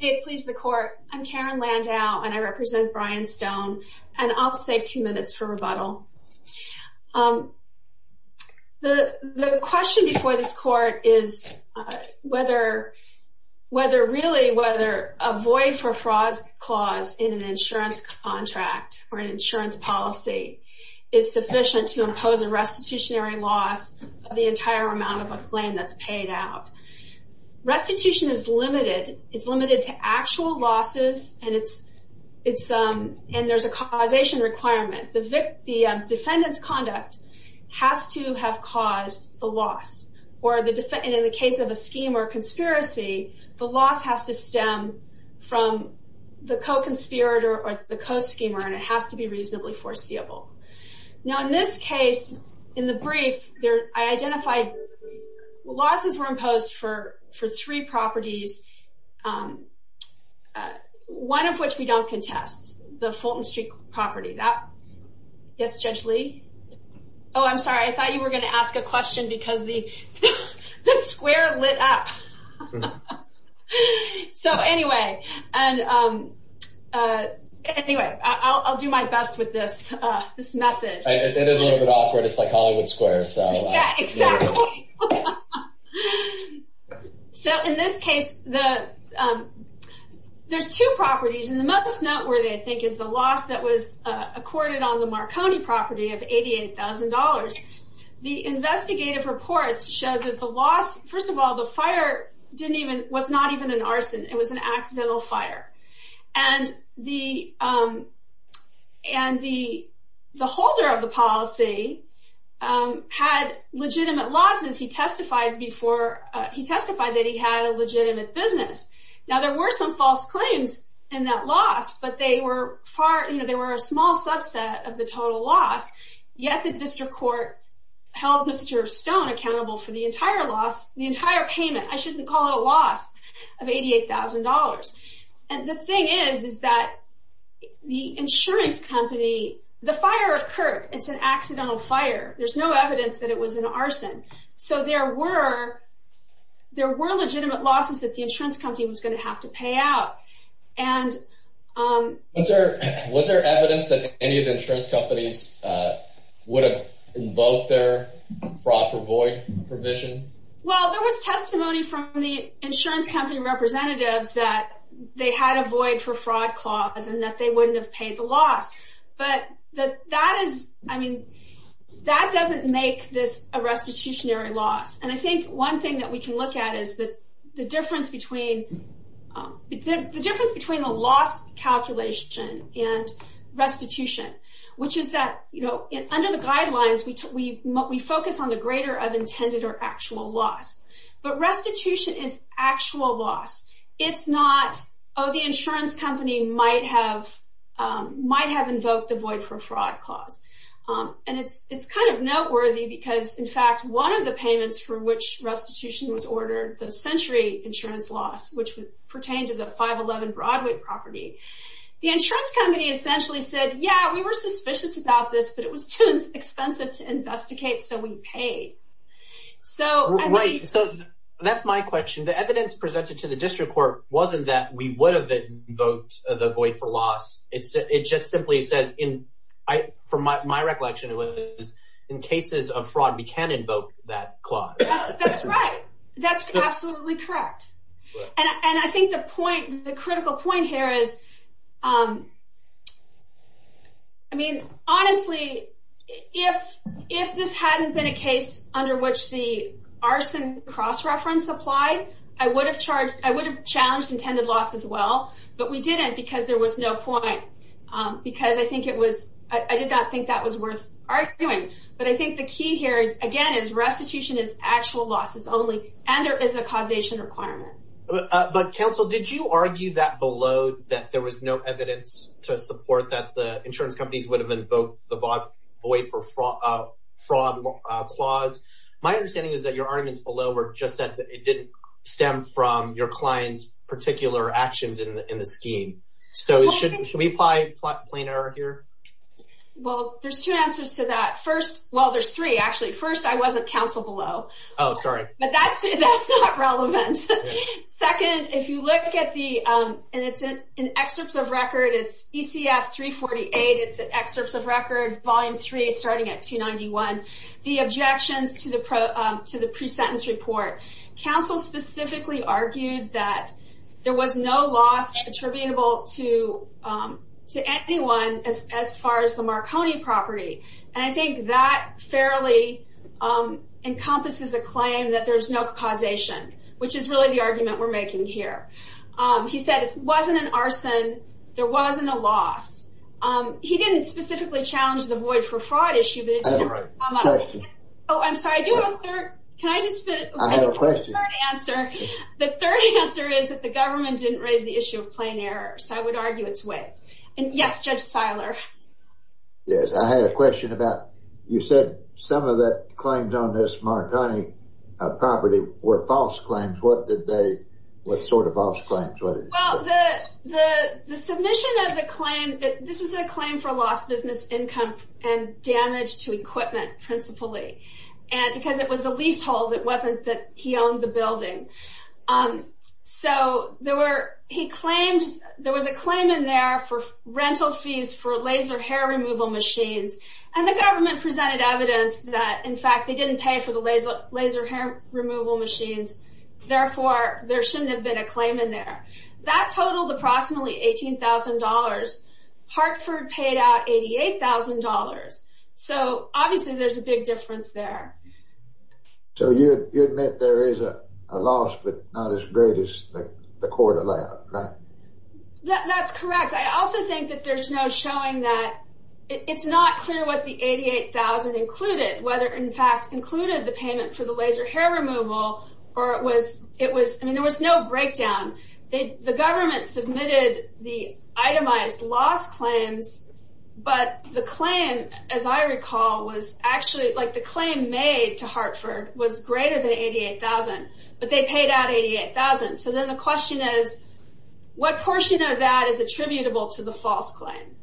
It pleases the court. I'm Karen Landau and I represent Brian Stone and I'll save two minutes for rebuttal. The question before this court is whether really whether a void for fraud clause in an insurance contract or an insurance policy is sufficient to impose a restitutionary loss of the entire amount of a claim that's paid out. Restitution is limited. It's limited to actual losses and there's a causation requirement. The defendant's conduct has to have caused a loss or in the case of a scheme or conspiracy, the loss has to stem from the co-conspirator or the co-schemer and it has to be reasonably foreseeable. Now in this case, in the brief, I identified losses were imposed for three properties, one of which we don't contest, the Fulton Street property. Yes, Judge Lee? Oh, I'm sorry. I thought you were going to ask a question because the square lit up. So anyway, I'll do my best with this method. It is a little bit awkward. It's like Hollywood Square. Yeah, exactly. So in this case, there's two properties and the most noteworthy, I think, is the loss that was accorded on the Marconi property of $88,000. The investigative reports show that the loss, first of all, the fire was not even an arson. It was an accidental fire and the holder of the policy had legitimate losses. He testified that he had a legitimate business. Now there were some false claims in that loss, but they were a small subset of the total loss. Yet the district court held Mr. Stone accountable for the entire loss, the entire payment. I shouldn't call it a loss of $88,000. And the thing is, is that the insurance company, the fire occurred. It's an accidental fire. There's no evidence that it was an arson. So there were legitimate losses that the insurance company was going to have to pay out. Was there evidence that any of the insurance companies would have invoked their fraud for void provision? Well, there was testimony from the insurance company representatives that they had a void for fraud clause and that they wouldn't have paid the loss. But that doesn't make this a restitutionary loss. And I think one thing that we can look at is the difference between a loss calculation and restitution, which is that under the guidelines, we focus on the greater of intended or actual loss. But restitution is actual loss. It's not, oh, the insurance company might have invoked the void for fraud clause. And it's kind of noteworthy because, in fact, one of the payments for which restitution was ordered, the century insurance loss, which pertained to the 511 Broadway property, the insurance company essentially said, yeah, we were suspicious about this, but it was too expensive to investigate, so we paid. Right. So that's my question. The evidence presented to the district court wasn't that we would have invoked the void for loss. It just simply says, from my recollection, it was in cases of fraud, we can invoke that clause. That's right. That's absolutely correct. And I think the critical point here is, I mean, honestly, if this hadn't been a case under which the arson cross-reference applied, I would have challenged intended loss as well. But we didn't because there was no point because I did not think that was worth arguing. But I think the key here, again, is restitution is actual losses only and there is a causation requirement. But, counsel, did you argue that below, that there was no evidence to support that the insurance companies would have invoked the void for fraud clause? Because my understanding is that your arguments below were just that it didn't stem from your client's particular actions in the scheme. So should we apply plain error here? Well, there's two answers to that. First, well, there's three, actually. First, I wasn't counsel below. Oh, sorry. But that's not relevant. Second, if you look at the, and it's in excerpts of record, it's ECF 348. It's in excerpts of record, Volume 3, starting at 291. The objections to the pre-sentence report. Counsel specifically argued that there was no loss attributable to anyone as far as the Marconi property. And I think that fairly encompasses a claim that there's no causation, which is really the argument we're making here. He said it wasn't an arson. There wasn't a loss. He didn't specifically challenge the void for fraud issue, but it did come up. I have a question. Oh, I'm sorry. I do have a third. Can I just finish? I have a question. The third answer is that the government didn't raise the issue of plain error. So I would argue it's whipped. And, yes, Judge Steiler. Yes, I had a question about, you said some of the claims on this Marconi property were false claims. What did they, what sort of false claims? Well, the submission of the claim, this was a claim for lost business income and damage to equipment principally. And because it was a leasehold, it wasn't that he owned the building. So there were, he claimed, there was a claim in there for rental fees for laser hair removal machines. And the government presented evidence that, in fact, they didn't pay for the laser hair removal machines. Therefore, there shouldn't have been a claim in there. That totaled approximately $18,000. Hartford paid out $88,000. So, obviously, there's a big difference there. So you admit there is a loss, but not as great as the court allowed, right? That's correct. I also think that there's no showing that it's not clear what the $88,000 included, whether, in fact, included the payment for the laser hair removal, or it was, I mean, there was no breakdown. The government submitted the itemized loss claims, but the claim, as I recall, was actually, like the claim made to Hartford was greater than $88,000, but they paid out $88,000. So then the question is, what portion of that is attributable to the false claim?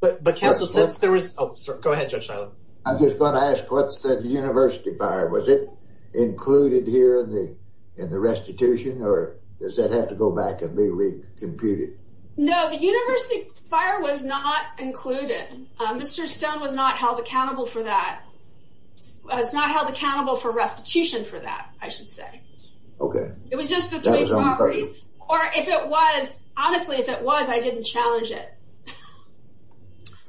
But counsel, since there was, oh, go ahead, Judge Shiloh. I'm just going to ask, what's the university fire? Was it included here in the restitution, or does that have to go back and be re-computed? No, the university fire was not included. Mr. Stone was not held accountable for that. Was not held accountable for restitution for that, I should say. Okay. It was just the three properties, or if it was, honestly, if it was, I didn't challenge it.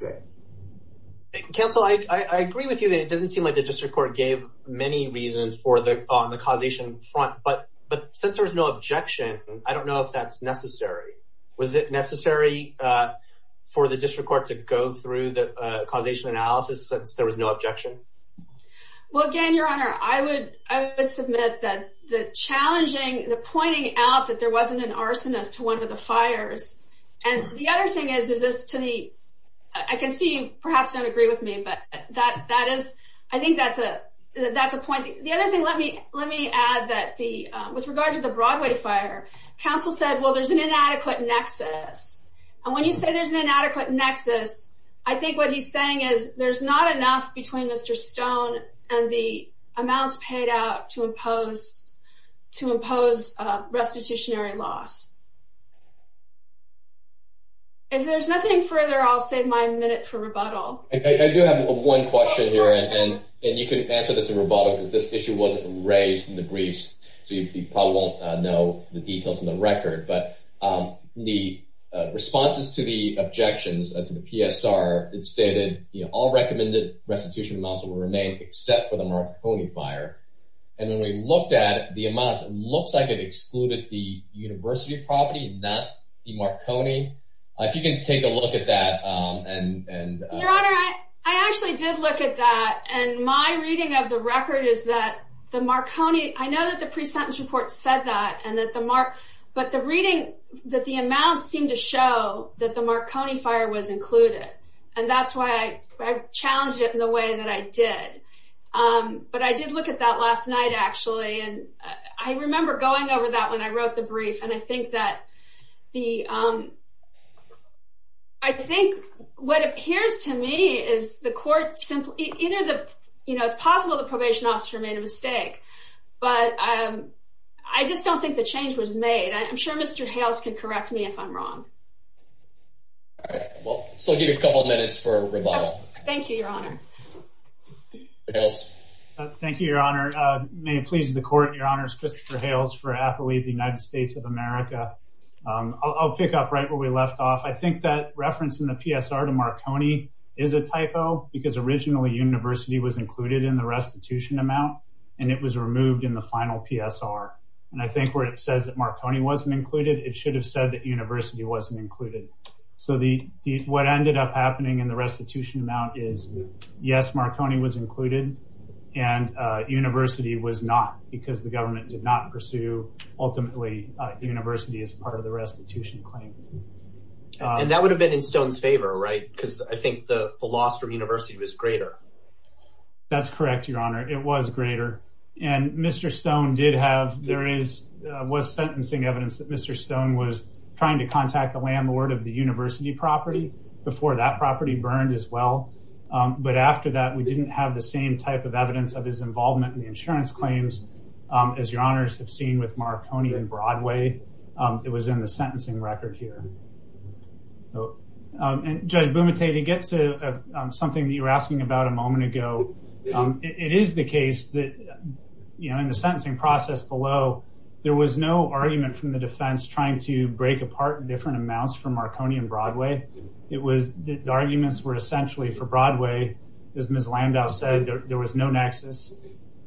Okay. Counsel, I agree with you that it doesn't seem like the district court gave many reasons on the causation front, but since there was no objection, I don't know if that's necessary. Was it necessary for the district court to go through the causation analysis since there was no objection? Well, again, Your Honor, I would submit that the challenging, the pointing out that there wasn't an arsonist to one of the fires, and the other thing is, I can see you perhaps don't agree with me, but I think that's a point. The other thing, let me add that with regard to the Broadway fire, counsel said, well, there's an inadequate nexus, and when you say there's an inadequate nexus, I think what he's saying is there's not enough between Mr. Stone and the amounts paid out to impose restitutionary loss. If there's nothing further, I'll save my minute for rebuttal. I do have one question here, and you can answer this in rebuttal because this issue wasn't raised in the briefs, so you probably won't know the details in the record, but the responses to the objections to the PSR, it stated, all recommended restitution amounts will remain except for the Marconi fire, and when we looked at the amounts, it looks like it excluded the University property, not the Marconi. If you can take a look at that. Your Honor, I actually did look at that, and my reading of the record is that the Marconi, I know that the pre-sentence report said that, but the reading that the amounts seem to show that the Marconi fire was included, and that's why I challenged it in the way that I did, but I did look at that last night, actually, and I remember going over that when I wrote the brief, and I think that the, I think what appears to me is the court simply, either the, you know, it's possible the probation officer made a mistake, but I just don't think the change was made. I'm sure Mr. Hales can correct me if I'm wrong. All right. Well, so I'll give you a couple of minutes for rebuttal. Thank you, Your Honor. Hales. Thank you, Your Honor. May it please the Court, Your Honor, it's Christopher Hales for Apple Leaf United States of America. I'll pick up right where we left off. I think that reference in the PSR to Marconi is a typo because originally University was included in the restitution amount, and it was removed in the final PSR, and I think where it says that Marconi wasn't included, it should have said that University wasn't included. So what ended up happening in the restitution amount is, yes, Marconi was included, and University was not because the government did not pursue, ultimately, University as part of the restitution claim. And that would have been in Stone's favor, right? Because I think the loss from University was greater. That's correct, Your Honor. It was greater, and Mr. Stone did have, there was sentencing evidence that Mr. Stone was trying to contact the landlord of the University property before that property burned as well. But after that, we didn't have the same type of evidence of his involvement in the insurance claims, as Your Honors have seen with Marconi and Broadway. It was in the sentencing record here. And Judge Bumate, to get to something that you were asking about a moment ago, it is the case that, you know, in the sentencing process below, there was no argument from the defense trying to break apart different amounts for Marconi and Broadway. The arguments were essentially for Broadway, as Ms. Landau said, there was no nexus.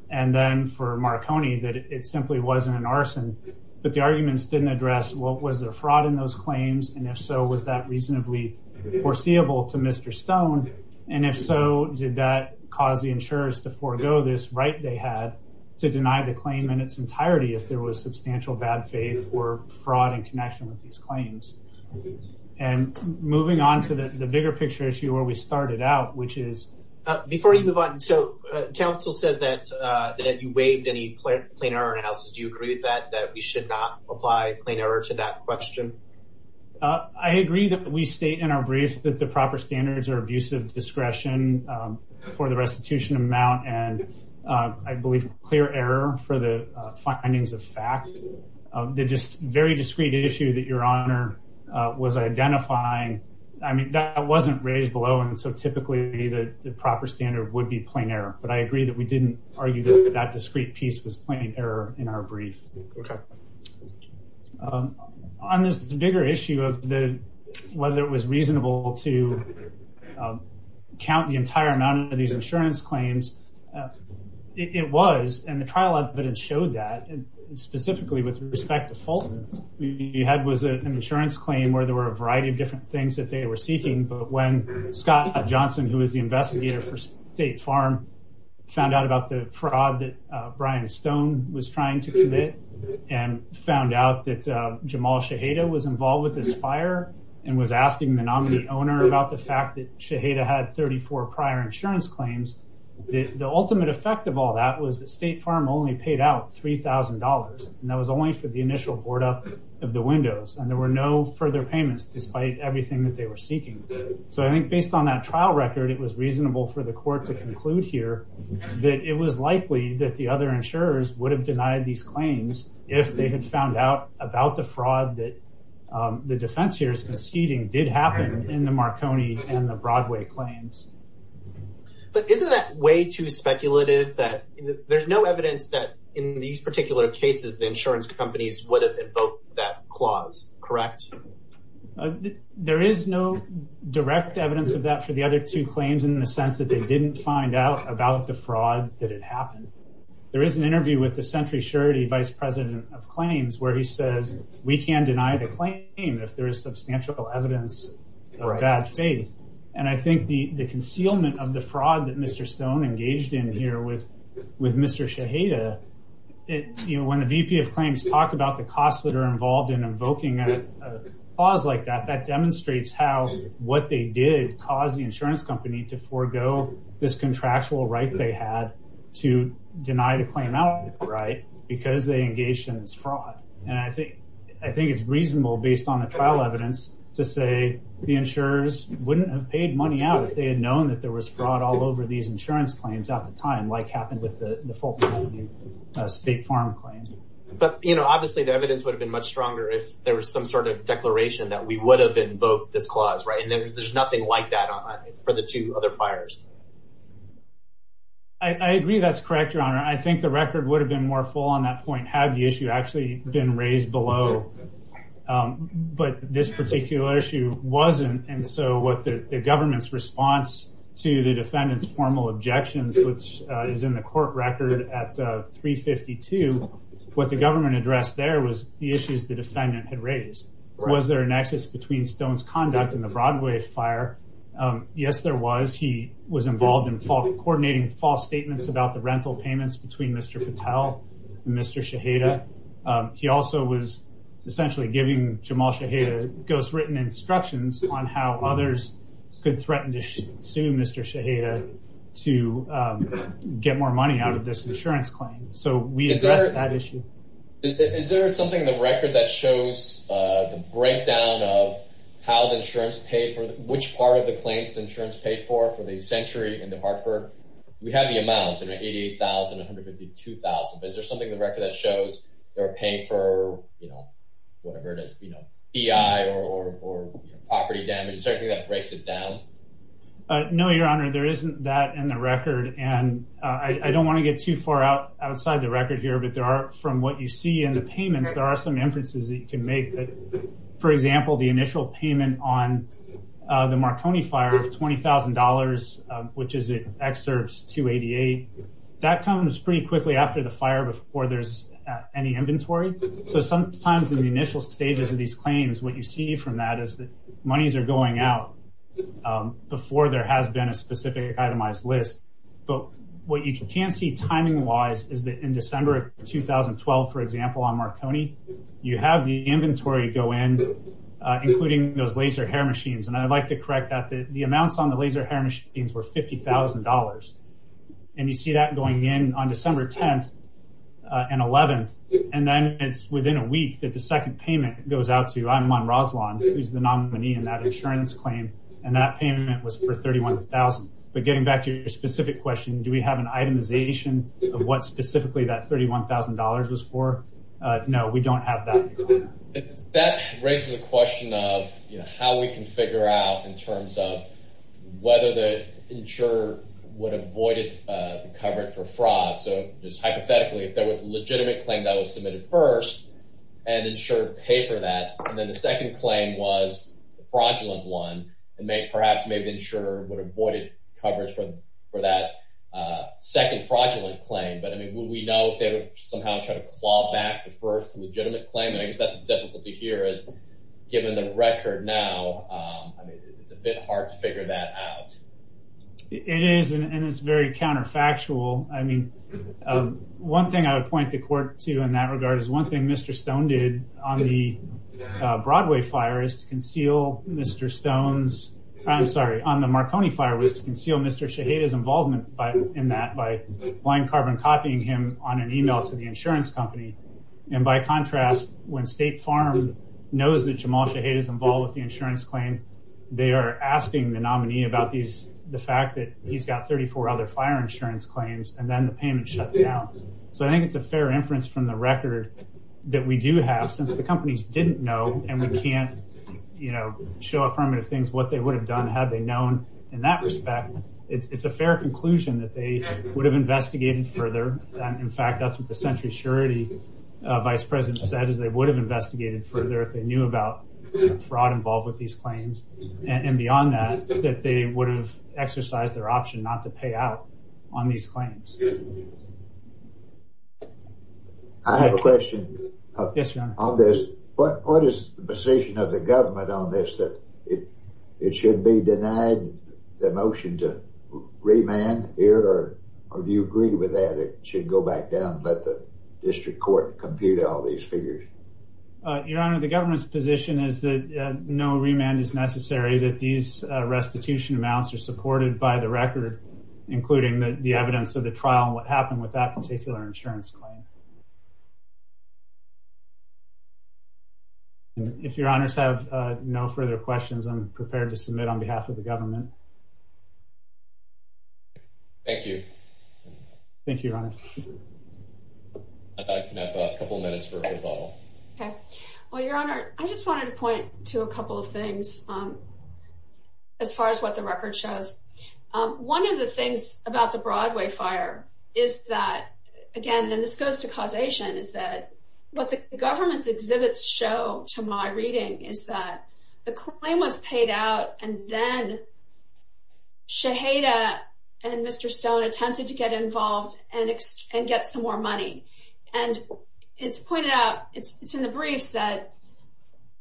And then for Marconi, that it simply wasn't an arson. But the arguments didn't address, well, was there fraud in those claims? And if so, was that reasonably foreseeable to Mr. Stone? And if so, did that cause the insurers to forego this right they had to deny the claim in its entirety if there was substantial bad faith or fraud in connection with these claims? And moving on to the bigger picture issue where we started out, which is... Before you move on, so counsel says that you waived any plain error analysis. Do you agree with that, that we should not apply plain error to that question? I agree that we state in our brief that the proper standards are abusive discretion for the restitution amount and I believe clear error for the findings of fact. The just very discrete issue that Your Honor was identifying, I mean, that wasn't raised below and so typically the proper standard would be plain error. But I agree that we didn't argue that that discrete piece was plain error in our brief. On this bigger issue of whether it was reasonable to count the entire amount of these insurance claims, it was, and the trial evidence showed that, and specifically with respect to Fulton, what we had was an insurance claim where there were a variety of different things that they were seeking, but when Scott Johnson, who was the investigator for State Farm, found out about the fraud that Brian Stone was trying to commit and found out that Jamal Shaheda was involved with this fire and was asking the nominee owner about the fact that Shaheda had 34 prior insurance claims, the ultimate effect of all that was that State Farm only paid out $3,000 and that was only for the initial board up of the windows and there were no further payments despite everything that they were seeking. So I think based on that trial record, it was reasonable for the court to conclude here that it was likely that the other insurers would have denied these claims if they had found out about the fraud that the defense here is conceding did happen in the Marconi and the Broadway claims. But isn't that way too speculative that there's no evidence that in these particular cases the insurance companies would have invoked that clause, correct? There is no direct evidence of that for the other two claims in the sense that they didn't find out about the fraud that had happened. There is an interview with the Century Surety Vice President of Claims where he says we can deny the claim if there is substantial evidence of bad faith and I think the concealment of the fraud that Mr. Stone engaged in here with Mr. Shaheda, when the VP of Claims talked about the costs that are involved in invoking a clause like that, that demonstrates how what they did caused the insurance company to forego this contractual right they had to deny the claim out, right, because they engaged in this fraud. And I think it's reasonable based on the trial evidence to say the insurers wouldn't have paid money out if they had known that there was fraud all over these insurance claims at the time like happened with the Fulton County State Farm claims. But, you know, obviously the evidence would have been much stronger if there was some sort of declaration that we would have invoked this clause, right, and there's nothing like that for the two other fires. I agree that's correct, Your Honor. I think the record would have been more full on that point had the issue actually been raised below. But this particular issue wasn't, and so what the government's response to the defendant's formal objections, which is in the court record at 352, what the government addressed there was the issues the defendant had raised. Was there a nexus between Stone's conduct and the Broadway fire? Yes, there was. He was involved in coordinating false statements about the rental payments between Mr. Patel and Mr. Shaheda. He also was essentially giving Jamal Shaheda ghostwritten instructions on how others could threaten to sue Mr. Shaheda to get more money out of this insurance claim. So we addressed that issue. Is there something in the record that shows the breakdown of how the insurance paid for, which part of the claims the insurance paid for for the Century and the Hartford? We have the amounts, 88,000, 152,000. Is there something in the record that shows they were paying for, you know, whatever it is, you know, EI or property damage? Is there anything that breaks it down? No, Your Honor, there isn't that in the record, and I don't want to get too far outside the record here, but there are, from what you see in the payments, there are some inferences that you can make. For example, the initial payment on the Marconi fire of $20,000, which is in excerpts 288, that comes pretty quickly after the fire before there's any inventory. So sometimes in the initial stages of these claims, what you see from that is that monies are going out before there has been a specific itemized list. But what you can't see timing-wise is that in December of 2012, for example, on Marconi, you have the inventory go in, including those laser hair machines, and I'd like to correct that. The amounts on the laser hair machines were $50,000, and you see that going in on December 10th and 11th, and then it's within a week that the second payment goes out to Iman Roslan, who's the nominee in that insurance claim, and that payment was for $31,000. But getting back to your specific question, do we have an itemization of what specifically that $31,000 was for? No, we don't have that. That raises a question of how we can figure out in terms of whether the insurer would have avoided the coverage for fraud. So just hypothetically, if there was a legitimate claim that was submitted first and insured to pay for that, and then the second claim was a fraudulent one, perhaps maybe the insurer would have avoided coverage for that second fraudulent claim. But, I mean, would we know if they would somehow try to claw back the first legitimate claim? I guess that's the difficulty here is given the record now, I mean, it's a bit hard to figure that out. It is, and it's very counterfactual. I mean, one thing I would point the court to in that regard is one thing Mr. Stone did on the Broadway fire is to conceal Mr. Stone's—I'm sorry, on the Marconi fire was to conceal Mr. Shaheda's involvement in that by blind carbon copying him on an email to the insurance company. And by contrast, when State Farm knows that Jamal Shaheda is involved with the insurance claim, they are asking the nominee about the fact that he's got 34 other fire insurance claims and then the payment shut down. So I think it's a fair inference from the record that we do have since the companies didn't know and we can't show affirmative things what they would have done had they known in that respect. It's a fair conclusion that they would have investigated further. In fact, that's what the century surety vice president said is they would have investigated further if they knew about fraud involved with these claims. And beyond that, that they would have exercised their option not to pay out on these claims. I have a question on this. What is the position of the government on this that it should be denied the motion to remand here or do you agree with that? It should go back down and let the district court compute all these figures. Your Honor, the government's position is that no remand is necessary, that these restitution amounts are supported by the record, including the evidence of the trial and what happened with that particular insurance claim. If Your Honors have no further questions, I'm prepared to submit on behalf of the government. Thank you. Thank you, Your Honor. I can have a couple minutes for rebuttal. Okay. Well, Your Honor, I just wanted to point to a couple of things as far as what the record shows. One of the things about the Broadway fire is that, again, and this goes to causation, is that what the government's exhibits show to my reading is that the claim was paid out and then Shaheda and Mr. Stone attempted to get involved and get some more money. And it's pointed out, it's in the briefs, that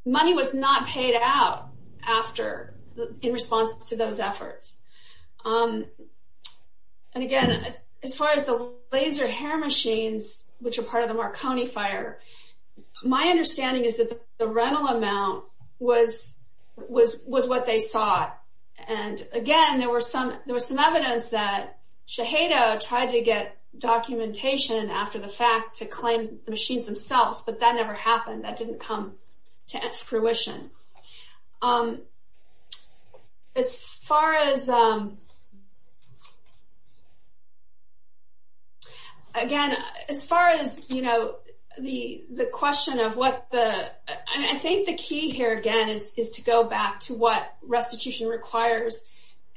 money was not paid out in response to those efforts. And, again, as far as the laser hair machines, which are part of the Marconi fire, my understanding is that the rental amount was what they sought. And, again, there was some evidence that Shaheda tried to get documentation after the fact to claim the machines themselves, but that never happened. That didn't come to fruition. As far as, again, as far as, you know, the question of what the – and I think the key here, again, is to go back to what restitution requires,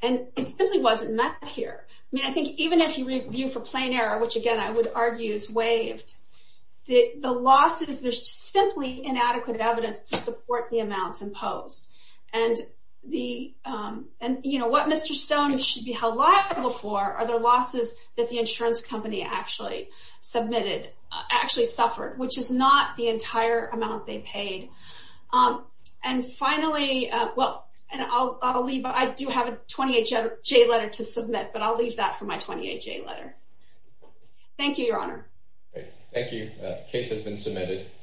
and it simply wasn't met here. I mean, I think even if you review for plain error, which, again, I would argue is waived, the losses, there's simply inadequate evidence to support the amounts imposed. And the – and, you know, what Mr. Stone should be held liable for are the losses that the insurance company actually submitted, actually suffered, which is not the entire amount they paid. And finally – well, and I'll leave – I do have a 28-J letter to submit, but I'll leave that for my 28-J letter. Thank you, Your Honor. Thank you. The case has been submitted.